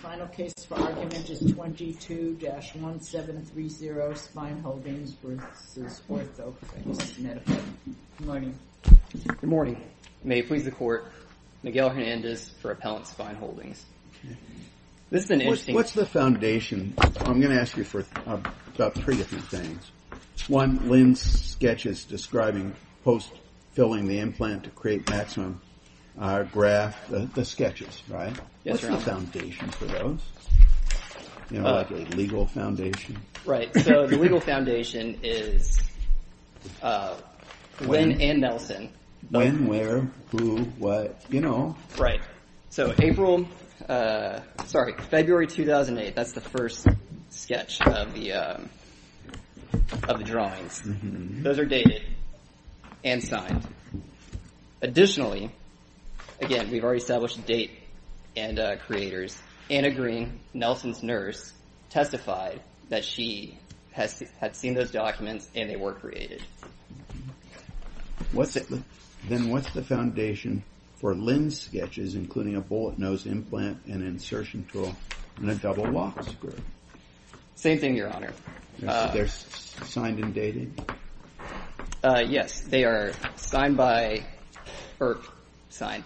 Final case for argument is 22-1730 Spine Holdings v. Orthofix Medical. Good morning. May it please the court, Miguel Hernandez for Appellant Spine Holdings. What's the foundation? I'm going to ask you about three different things. One, Lynn's sketch is describing post-filling the implant to create maximum graft. The sketches, right? What's the foundation for those? You know, like a legal foundation? Right, so the legal foundation is Lynn and Nelson. When, where, who, what, you know. Right, so April, sorry, February 2008, that's the first sketch of the drawings. Those are dated and signed. Additionally, again, we've already established the date and creators. Anna Green, Nelson's nurse, testified that she had seen those documents and they were created. Then what's the foundation for Lynn's sketches, including a bullet nose implant, an insertion tool, and a double lock screw? Same thing, Your Honor. They're signed and dated? Yes, they are signed by, or signed.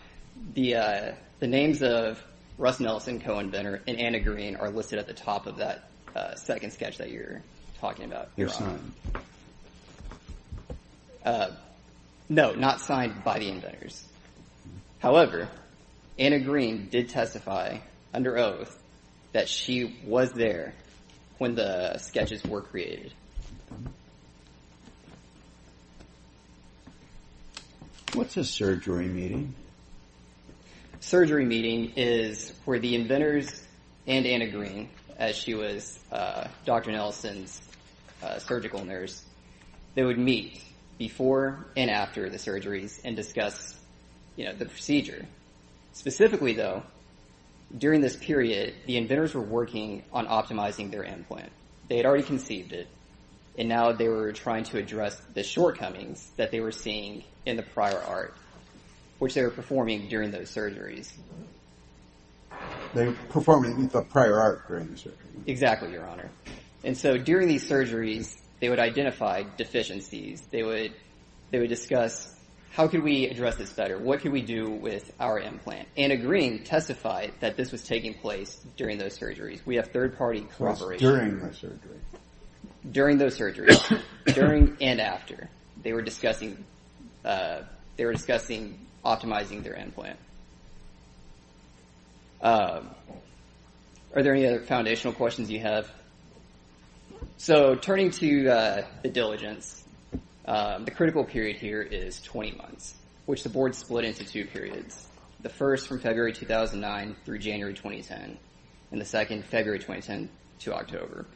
The names of Russ Nelson, co-inventor, and Anna Green are listed at the top of that second sketch that you're talking about. They're signed? No, not signed by the inventors. However, Anna Green did testify under oath that she was there when the sketches were created. What's a surgery meeting? Surgery meeting is where the inventors and Anna Green, as she was Dr. Nelson's surgical nurse, they would meet before and after the surgeries and discuss, you know, the procedure. Specifically, though, during this period, the inventors were working on optimizing their implant. They had already conceived it, and now they were trying to address the shortcomings that they were seeing in the prior art, which they were performing during those surgeries. They were performing the prior art during the surgeries. Exactly, Your Honor. And so during these surgeries, they would identify deficiencies. They would discuss, how could we address this better? What could we do with our implant? Anna Green testified that this was taking place during those surgeries. We have third-party corroboration. It was during the surgeries. During those surgeries, during and after. They were discussing optimizing their implant. Are there any other foundational questions you have? So turning to the diligence, the critical period here is 20 months, which the board split into two periods, the first from February 2009 through January 2010, and the second, February 2010 to October.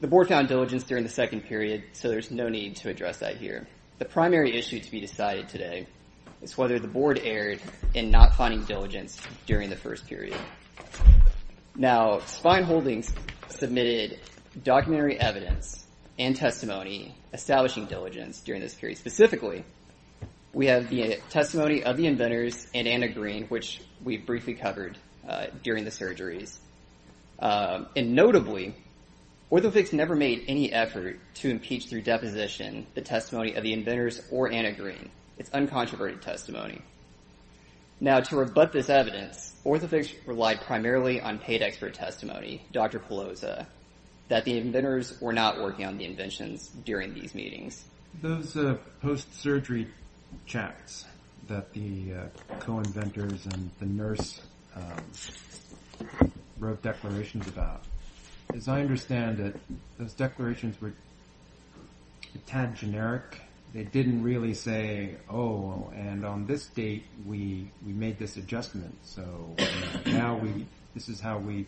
The board found diligence during the second period, so there's no need to address that here. The primary issue to be decided today is whether the board erred in not finding diligence during the first period. Now, Spine Holdings submitted documentary evidence and testimony establishing diligence during this period. Specifically, we have the testimony of the inventors and Anna Green, which we briefly covered during the surgeries. And notably, OrthoFix never made any effort to impeach through deposition the testimony of the inventors or Anna Green. It's uncontroverted testimony. Now, to rebut this evidence, OrthoFix relied primarily on paid expert testimony, Dr. Pelosa, that the inventors were not working on the inventions during these meetings. Those post-surgery chats that the co-inventors and the nurse wrote declarations about, as I understand it, those declarations were a tad generic. They didn't really say, oh, and on this date, we made this adjustment, so now this is how we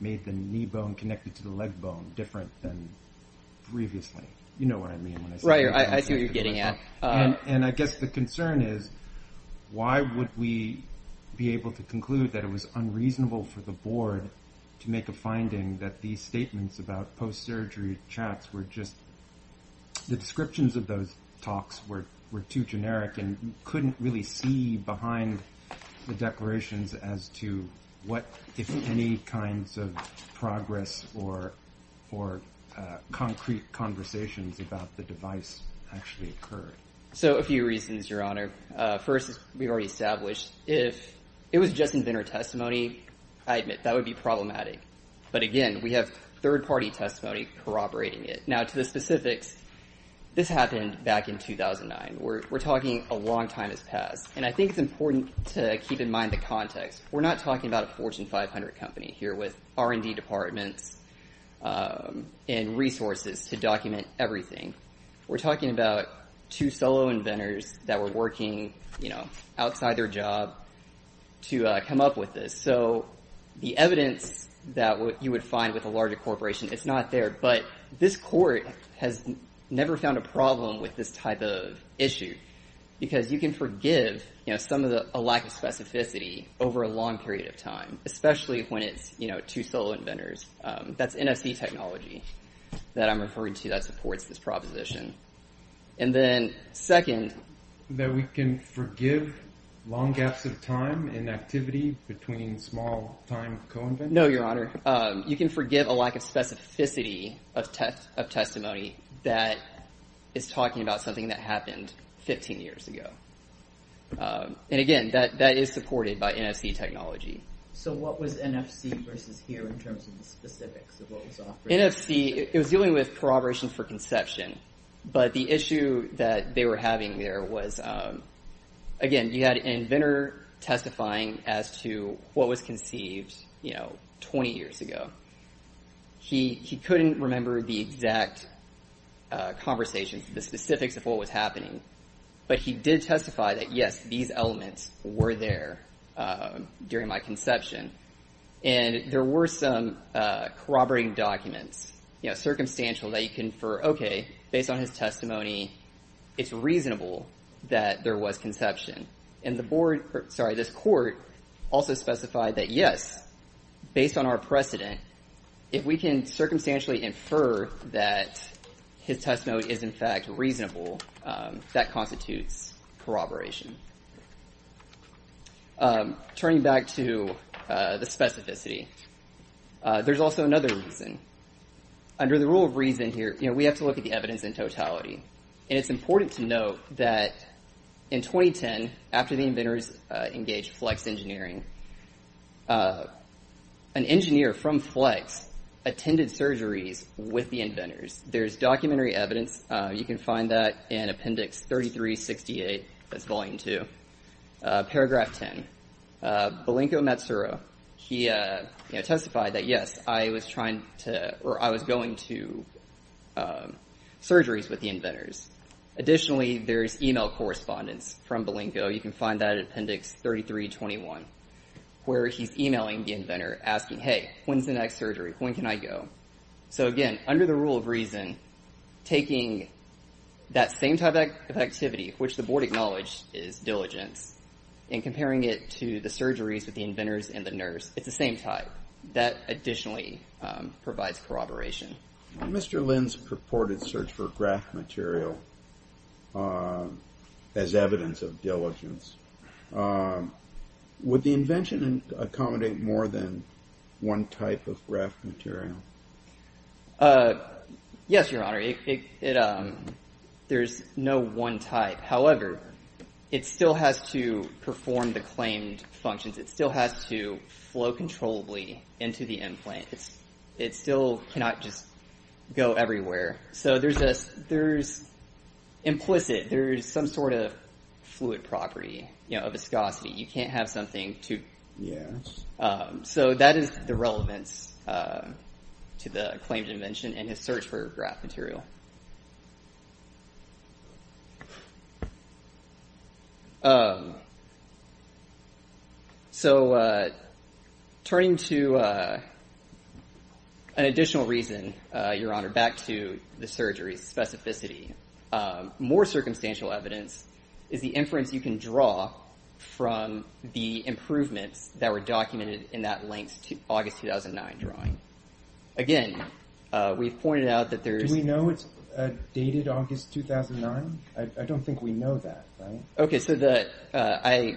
made the knee bone connected to the leg bone different than previously. You know what I mean when I say that. Right. I see what you're getting at. And I guess the concern is why would we be able to conclude that it was unreasonable for the board to make a finding that these statements about post-surgery chats were just the descriptions of those talks were too generic and couldn't really see behind the declarations as to what, if any, kinds of progress or concrete conversations about the device actually occurred. So a few reasons, Your Honor. First, as we've already established, if it was just inventor testimony, I admit, that would be problematic. But again, we have third-party testimony corroborating it. Now, to the specifics, this happened back in 2009. We're talking a long time has passed. And I think it's important to keep in mind the context. We're not talking about a Fortune 500 company here with R&D departments and resources to document everything. We're talking about two solo inventors that were working outside their job to come up with this. So the evidence that you would find with a larger corporation, it's not there. But this court has never found a problem with this type of issue because you can forgive some of the lack of specificity over a long period of time, especially when it's two solo inventors. That's NFC technology that I'm referring to that supports this proposition. And then second— That we can forgive long gaps of time in activity between small-time co-inventors? No, Your Honor. You can forgive a lack of specificity of testimony that is talking about something that happened 15 years ago. And again, that is supported by NFC technology. So what was NFC versus here in terms of the specifics of what was offered? NFC, it was dealing with corroboration for conception. But the issue that they were having there was, again, you had an inventor testifying as to what was conceived 20 years ago. He couldn't remember the exact conversations, the specifics of what was happening. But he did testify that, yes, these elements were there during my conception. And there were some corroborating documents, circumstantial, that you can infer, okay, based on his testimony, it's reasonable that there was conception. And the board—sorry, this court also specified that, yes, based on our precedent, if we can circumstantially infer that his testimony is, in fact, reasonable, that constitutes corroboration. Turning back to the specificity, there's also another reason. We have to look at the evidence in totality. And it's important to note that in 2010, after the inventors engaged FLEX engineering, an engineer from FLEX attended surgeries with the inventors. There's documentary evidence. You can find that in Appendix 3368, that's Volume 2, Paragraph 10. Balinko Matsura, he testified that, yes, I was going to surgeries with the inventors. Additionally, there's email correspondence from Balinko. You can find that in Appendix 3321, where he's emailing the inventor asking, hey, when's the next surgery? When can I go? So, again, under the rule of reason, taking that same type of activity, which the board acknowledged is diligence, and comparing it to the surgeries with the inventors and the nurse, it's the same type. That additionally provides corroboration. Mr. Lynn's purported search for graft material as evidence of diligence, would the invention accommodate more than one type of graft material? Yes, Your Honor. There's no one type. However, it still has to perform the claimed functions. It still has to flow controllably into the implant. It still cannot just go everywhere. So there's implicit, there's some sort of fluid property, a viscosity. You can't have something to... Yes. So that is the relevance to the claimed invention and his search for graft material. So turning to an additional reason, Your Honor, back to the surgery's specificity, more circumstantial evidence is the inference you can draw from the improvements that were documented in that length August 2009 drawing. Again, we've pointed out that there's... Do we know it's dated August 2009? I don't think we know that, right? Okay, so I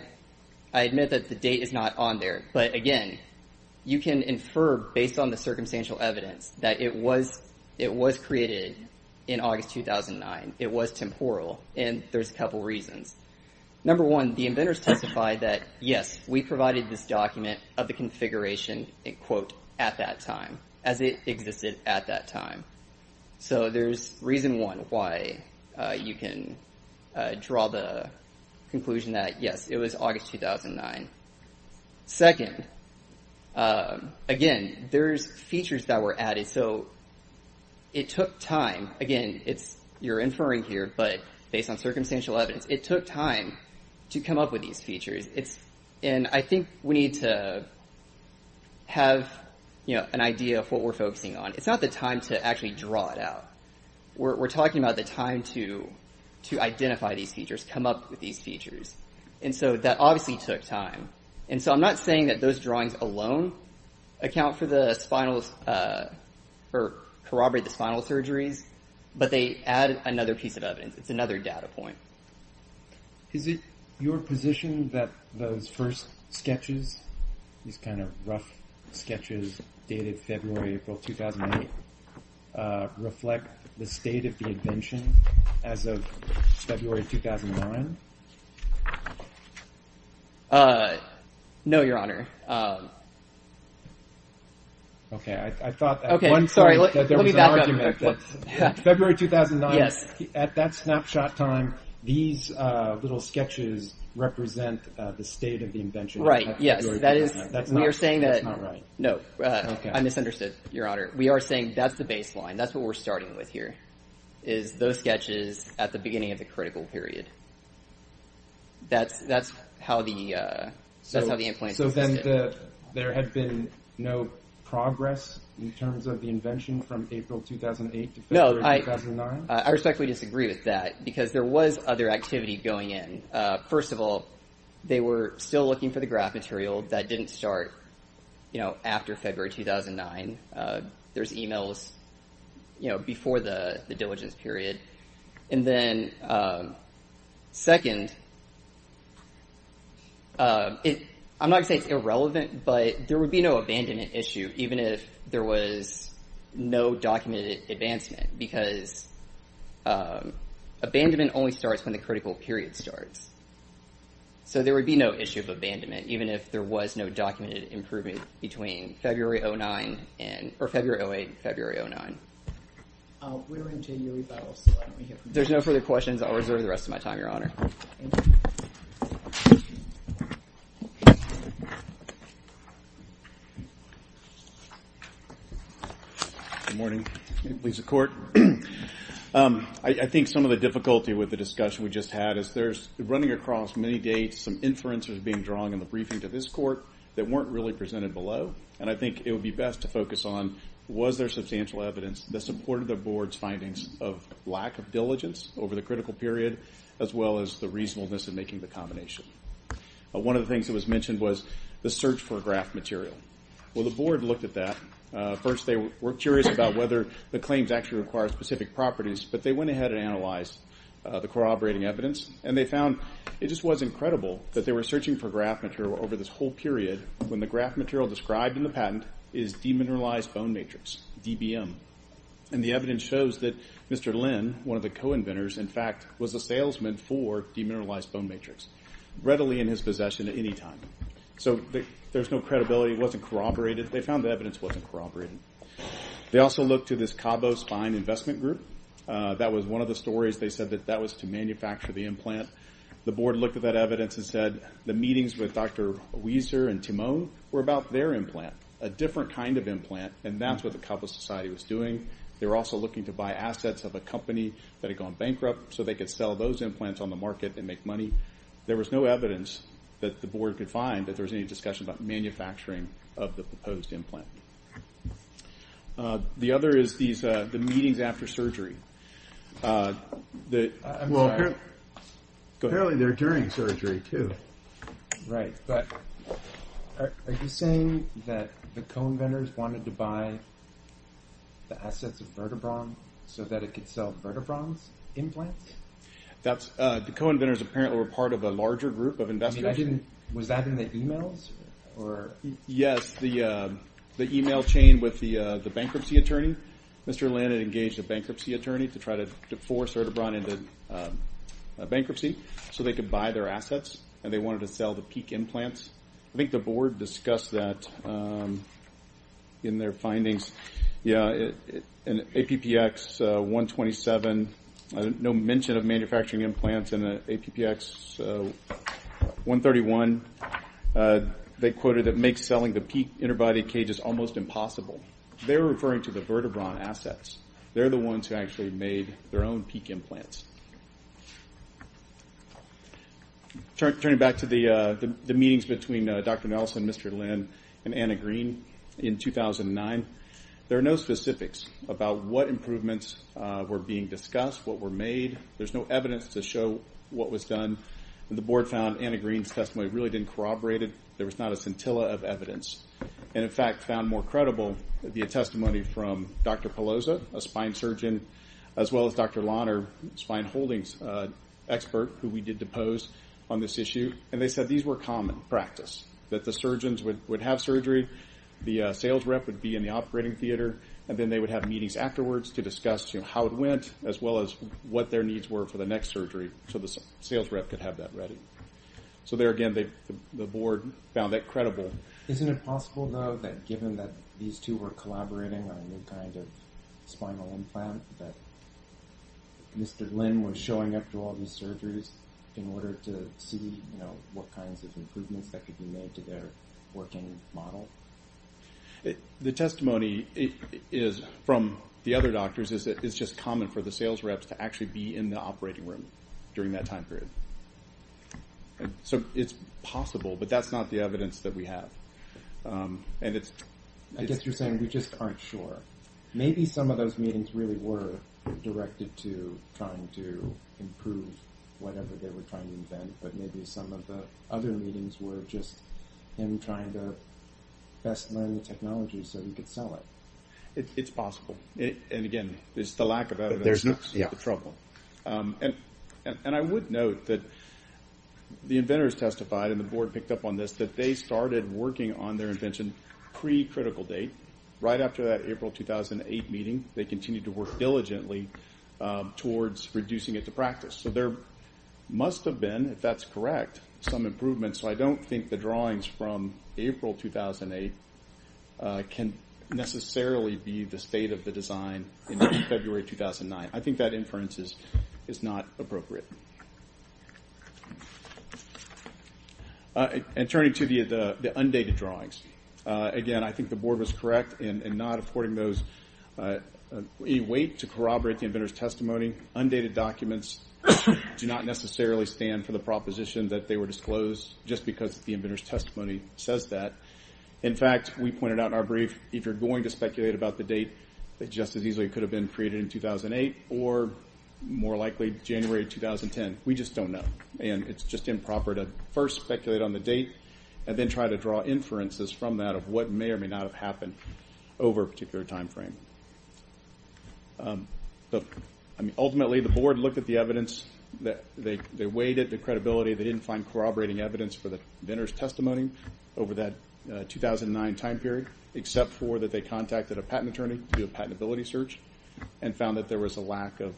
admit that the date is not on there. But again, you can infer based on the circumstantial evidence that it was created in August 2009. It was temporal, and there's a couple reasons. Number one, the inventors testified that, yes, we provided this document of the configuration, quote, at that time, as it existed at that time. So there's reason one why you can draw the conclusion that, yes, it was August 2009. Second, again, there's features that were added. So it took time. Again, you're inferring here, but based on circumstantial evidence, it took time to come up with these features. And I think we need to have an idea of what we're focusing on. It's not the time to actually draw it out. We're talking about the time to identify these features, come up with these features. And so that obviously took time. And so I'm not saying that those drawings alone account for the spinals or corroborate the spinal surgeries, but they add another piece of evidence. It's another data point. Is it your position that those first sketches, these kind of rough sketches dated February, April 2008, reflect the state of the invention as of February 2009? No, Your Honor. Okay. I thought at one point that there was an argument that February 2009, at that snapshot time, these little sketches represent the state of the invention. Right. Yes. That's not right. No. I misunderstood, Your Honor. We are saying that's the baseline. That's what we're starting with here, is those sketches at the beginning of the critical period. That's how the implants existed. So then there had been no progress in terms of the invention from April 2008 to February 2009? No. I respectfully disagree with that because there was other activity going in. First of all, they were still looking for the graph material that didn't start after February 2009. There's e-mails before the diligence period. And then second, I'm not going to say it's irrelevant, but there would be no abandonment issue even if there was no documented advancement because abandonment only starts when the critical period starts. So there would be no issue of abandonment even if there was no documented improvement between February 2008 and February 2009. We're in January, but I'll still let him hear. If there's no further questions, I'll reserve the rest of my time, Your Honor. Thank you. Good morning. Lisa Court. I think some of the difficulty with the discussion we just had is there's running across many dates, some inferences being drawn in the briefing to this court that weren't really presented below, and I think it would be best to focus on was there substantial evidence that supported the Board's findings of lack of diligence over the critical period as well as the reasonableness of making the combination. One of the things that was mentioned was the search for graph material. Well, the Board looked at that. First, they were curious about whether the claims actually require specific properties, but they went ahead and analyzed the corroborating evidence, and they found it just was incredible that they were searching for graph material over this whole period when the graph material described in the patent is demineralized bone matrix, DBM. And the evidence shows that Mr. Lin, one of the co-inventors, in fact, was a salesman for demineralized bone matrix, readily in his possession at any time. So there's no credibility. It wasn't corroborated. They found the evidence wasn't corroborated. They also looked to this Cabo Spine Investment Group. That was one of the stories. They said that that was to manufacture the implant. The Board looked at that evidence and said the meetings with Dr. Wieser and Timone were about their implant, a different kind of implant, and that's what the Cabo Society was doing. They were also looking to buy assets of a company that had gone bankrupt so they could sell those implants on the market and make money. There was no evidence that the Board could find that there was any discussion about manufacturing of the proposed implant. The other is the meetings after surgery. Well, apparently they're during surgery, too. Right, but are you saying that the co-inventors wanted to buy the assets of Vertebron so that it could sell Vertebron's implants? The co-inventors apparently were part of a larger group of investors. Was that in the e-mails? Yes, the e-mail chain with the bankruptcy attorney. Mr. Lannan engaged a bankruptcy attorney to try to force Vertebron into bankruptcy so they could buy their assets and they wanted to sell the Peak implants. I think the Board discussed that in their findings. Yeah, in APPX 127, no mention of manufacturing implants in APPX 131. They quoted, It makes selling the Peak interbody cages almost impossible. They were referring to the Vertebron assets. They're the ones who actually made their own Peak implants. Turning back to the meetings between Dr. Nelson, Mr. Lynn, and Anna Green in 2009, there are no specifics about what improvements were being discussed, what were made. There's no evidence to show what was done. The Board found Anna Green's testimony really didn't corroborate it. There was not a scintilla of evidence and, in fact, found more credible the testimony from Dr. Pelosa, a spine surgeon, as well as Dr. Launer, a spine holdings expert who we did depose on this issue. They said these were common practice, that the surgeons would have surgery, the sales rep would be in the operating theater, and then they would have meetings afterwards to discuss how it went as well as what their needs were for the next surgery so the sales rep could have that ready. There again, the Board found that credible. Isn't it possible, though, that given that these two were collaborating on a new kind of spinal implant, that Mr. Lynn was showing up to all these surgeries in order to see what kinds of improvements that could be made to their working model? The testimony from the other doctors is that it's just common for the sales reps to actually be in the operating room during that time period. So it's possible, but that's not the evidence that we have. I guess you're saying we just aren't sure. Maybe some of those meetings really were directed to trying to improve whatever they were trying to invent, but maybe some of the other meetings were just him trying to best learn the technology so he could sell it. It's possible, and again, it's the lack of evidence that's the trouble. I would note that the inventors testified, and the Board picked up on this, that they started working on their invention pre-critical date, right after that April 2008 meeting. They continued to work diligently towards reducing it to practice. So there must have been, if that's correct, some improvements. I don't think the drawings from April 2008 can necessarily be the state of the design in February 2009. I think that inference is not appropriate. And turning to the undated drawings, again, I think the Board was correct in not affording those. We wait to corroborate the inventor's testimony. Undated documents do not necessarily stand for the proposition that they were disclosed, just because the inventor's testimony says that. In fact, we pointed out in our brief, if you're going to speculate about the date, that just as easily it could have been created in 2008 or, more likely, January 2010. We just don't know. And it's just improper to first speculate on the date and then try to draw inferences from that of what may or may not have happened over a particular time frame. Ultimately, the Board looked at the evidence. They weighed it, the credibility. They didn't find corroborating evidence for the inventor's testimony over that 2009 time period, except for that they contacted a patent attorney to do a patentability search and found that there was a lack of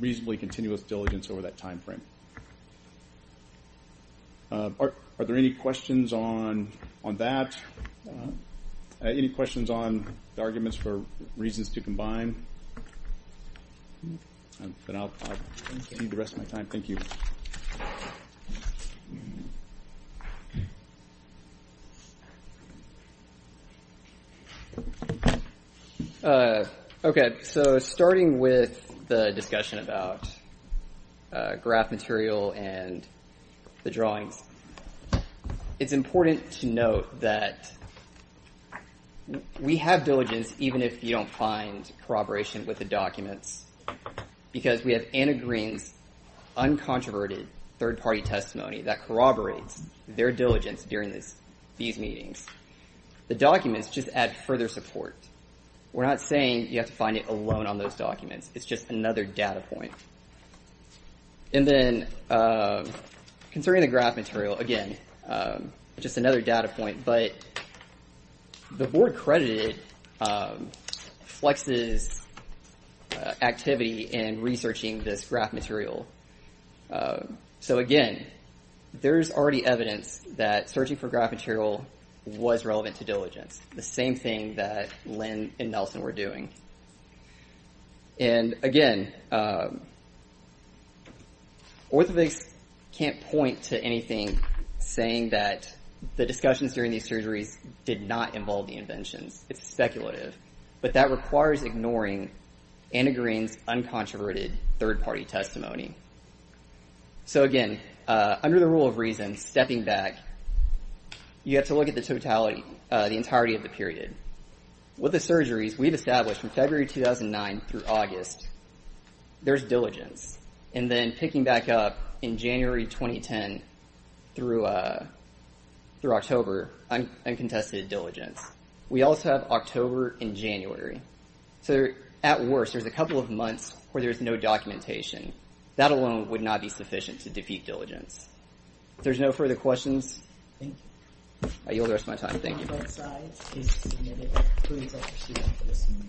reasonably continuous diligence over that time frame. Are there any questions on that? Any questions on the arguments for reasons to combine? Then I'll leave the rest of my time. Thank you. Okay, so starting with the discussion about graph material and the drawings, it's important to note that we have diligence, even if you don't find corroboration with the documents, because we have Anna Green's uncontroverted third-party testimony that corroborates their diligence during these meetings. The documents just add further support. We're not saying you have to find it alone on those documents. It's just another data point. And then concerning the graph material, again, just another data point, but the Board credited Flex's activity in researching this graph material. So, again, there's already evidence that searching for graph material was relevant to diligence, the same thing that Lynn and Nelson were doing. And, again, orthopedics can't point to anything saying that the discussions during these surgeries did not involve the inventions. It's speculative. But that requires ignoring Anna Green's uncontroverted third-party testimony. So, again, under the rule of reason, stepping back, you have to look at the entirety of the period. With the surgeries we've established from February 2009 through August, there's diligence. And then picking back up in January 2010 through October, uncontested diligence. We also have October and January. So, at worst, there's a couple of months where there's no documentation. That alone would not be sufficient to defeat diligence. If there's no further questions, I yield the rest of my time. Thank you.